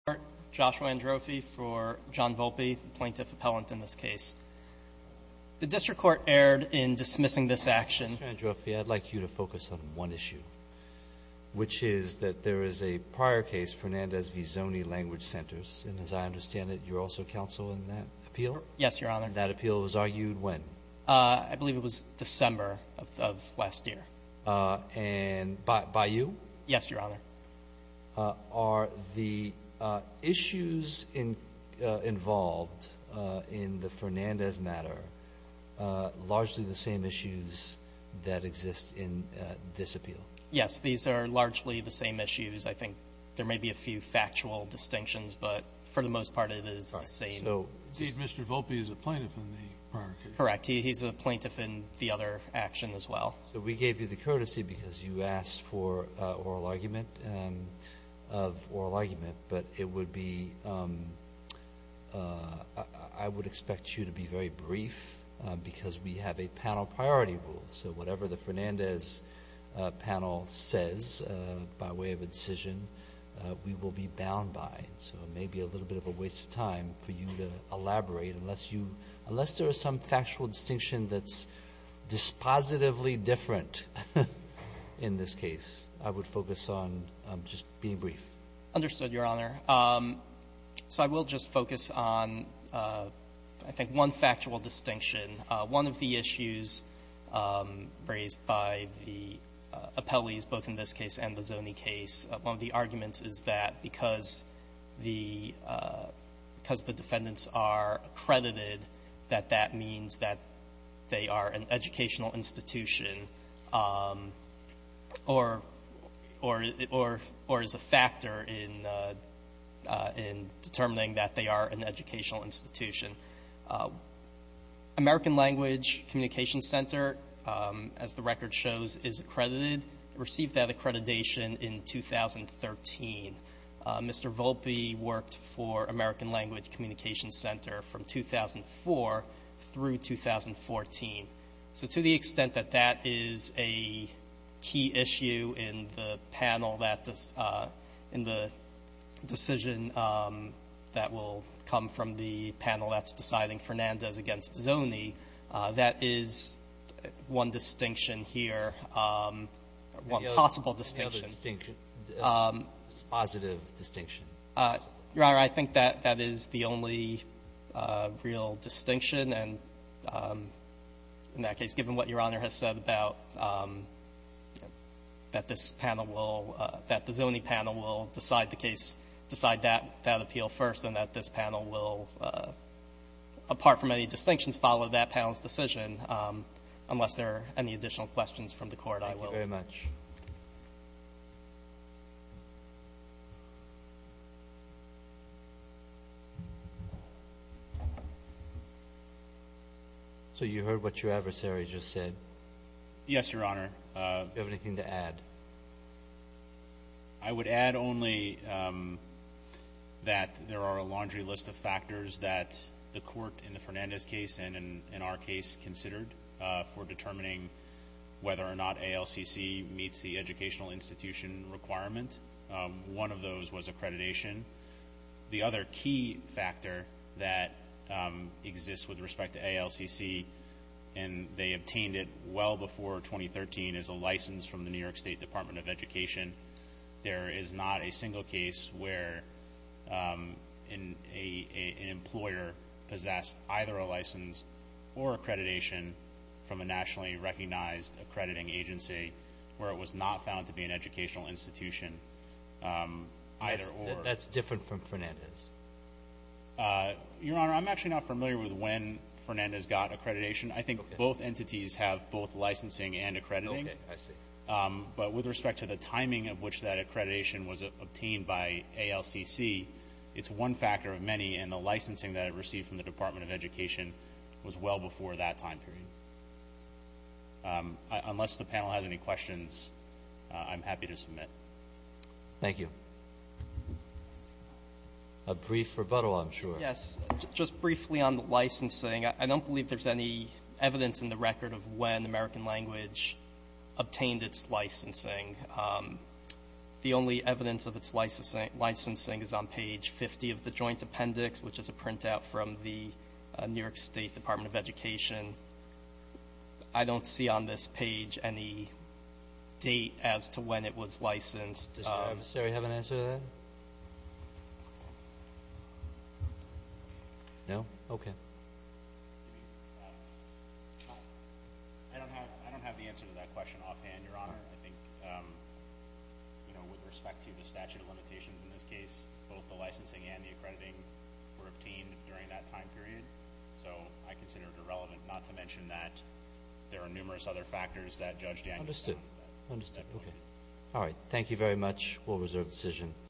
Joshua Androffi for John Volpe, plaintiff appellant in this case. The district court erred in dismissing this action. Mr. Androffi, I'd like you to focus on one issue, which is that there is a prior case Fernandez v. Zoni Language Centers, and as I understand it, you're also counsel in that appeal? Yes, Your Honor. And that appeal was argued when? I believe it was December of last year. And by you? Yes, Your Honor. Are the issues involved in the Fernandez matter largely the same issues that exist in this appeal? Yes. These are largely the same issues. I think there may be a few factual distinctions, but for the most part, it is the same. So indeed, Mr. Volpe is a plaintiff in the prior case? Correct. He's a plaintiff in the other action as well. So we gave you the courtesy because you asked for oral argument, of oral argument, but it would be, I would expect you to be very brief because we have a panel priority rule. So whatever the Fernandez panel says by way of a decision, we will be bound by it. So it may be a little bit of a waste of time for you to elaborate unless you, unless there is some factual distinction that's dispositively different in this case. I would focus on just being brief. Understood, Your Honor. So I will just focus on, I think, one factual distinction. One of the issues raised by the appellees, both in this case and the Zony case, one of the arguments is that because the defendants are accredited, that that means that they are an educational institution or is a factor in determining that they are an educational institution. American Language Communication Center, as the record shows, is accredited. Received that accreditation in 2013. Mr. Volpe worked for American Language Communication Center from 2004 through 2014. So to the extent that that is a key issue in the panel that, in the decision that will come from the panel that's deciding Fernandez against Zony, that is one distinction here, one possible distinction. Any other distinction, positive distinction? Your Honor, I think that that is the only real distinction. And in that case, given what Your Honor has said about that this panel will – that that appeal first and that this panel will, apart from any distinctions, follow that panel's decision, unless there are any additional questions from the Court, I will. Thank you very much. So you heard what your adversary just said? Yes, Your Honor. Do you have anything to add? I would add only that there are a laundry list of factors that the Court, in the Fernandez case and in our case, considered for determining whether or not ALCC meets the educational institution requirement. One of those was accreditation. The other key factor that exists with respect to ALCC, and they obtained it well before 2013, is a license from the New York State Department of Education. There is not a single case where an employer possessed either a license or accreditation from a nationally recognized accrediting agency where it was not found to be an educational institution either or. That's different from Fernandez? Your Honor, I'm actually not familiar with when Fernandez got accreditation. I think both entities have both licensing and accrediting. Okay. I see. But with respect to the timing of which that accreditation was obtained by ALCC, it's one factor of many, and the licensing that it received from the Department of Education was well before that time period. Unless the panel has any questions, I'm happy to submit. Thank you. A brief rebuttal, I'm sure. Yes. Just briefly on the licensing, I don't believe there's any evidence in the record of when American Language obtained its licensing. The only evidence of its licensing is on page 50 of the Joint Appendix, which is a printout from the New York State Department of Education. I don't see on this page any date as to when it was licensed. Does the Department of Education have an answer to that? No? Okay. I don't have the answer to that question offhand, Your Honor. I think, you know, with respect to the statute of limitations in this case, both the licensing and the accrediting were obtained during that time period. So I consider it irrelevant not to mention that there are numerous other factors that Judge Daniels found. Understood. Understood. Okay. All right. Thank you very much.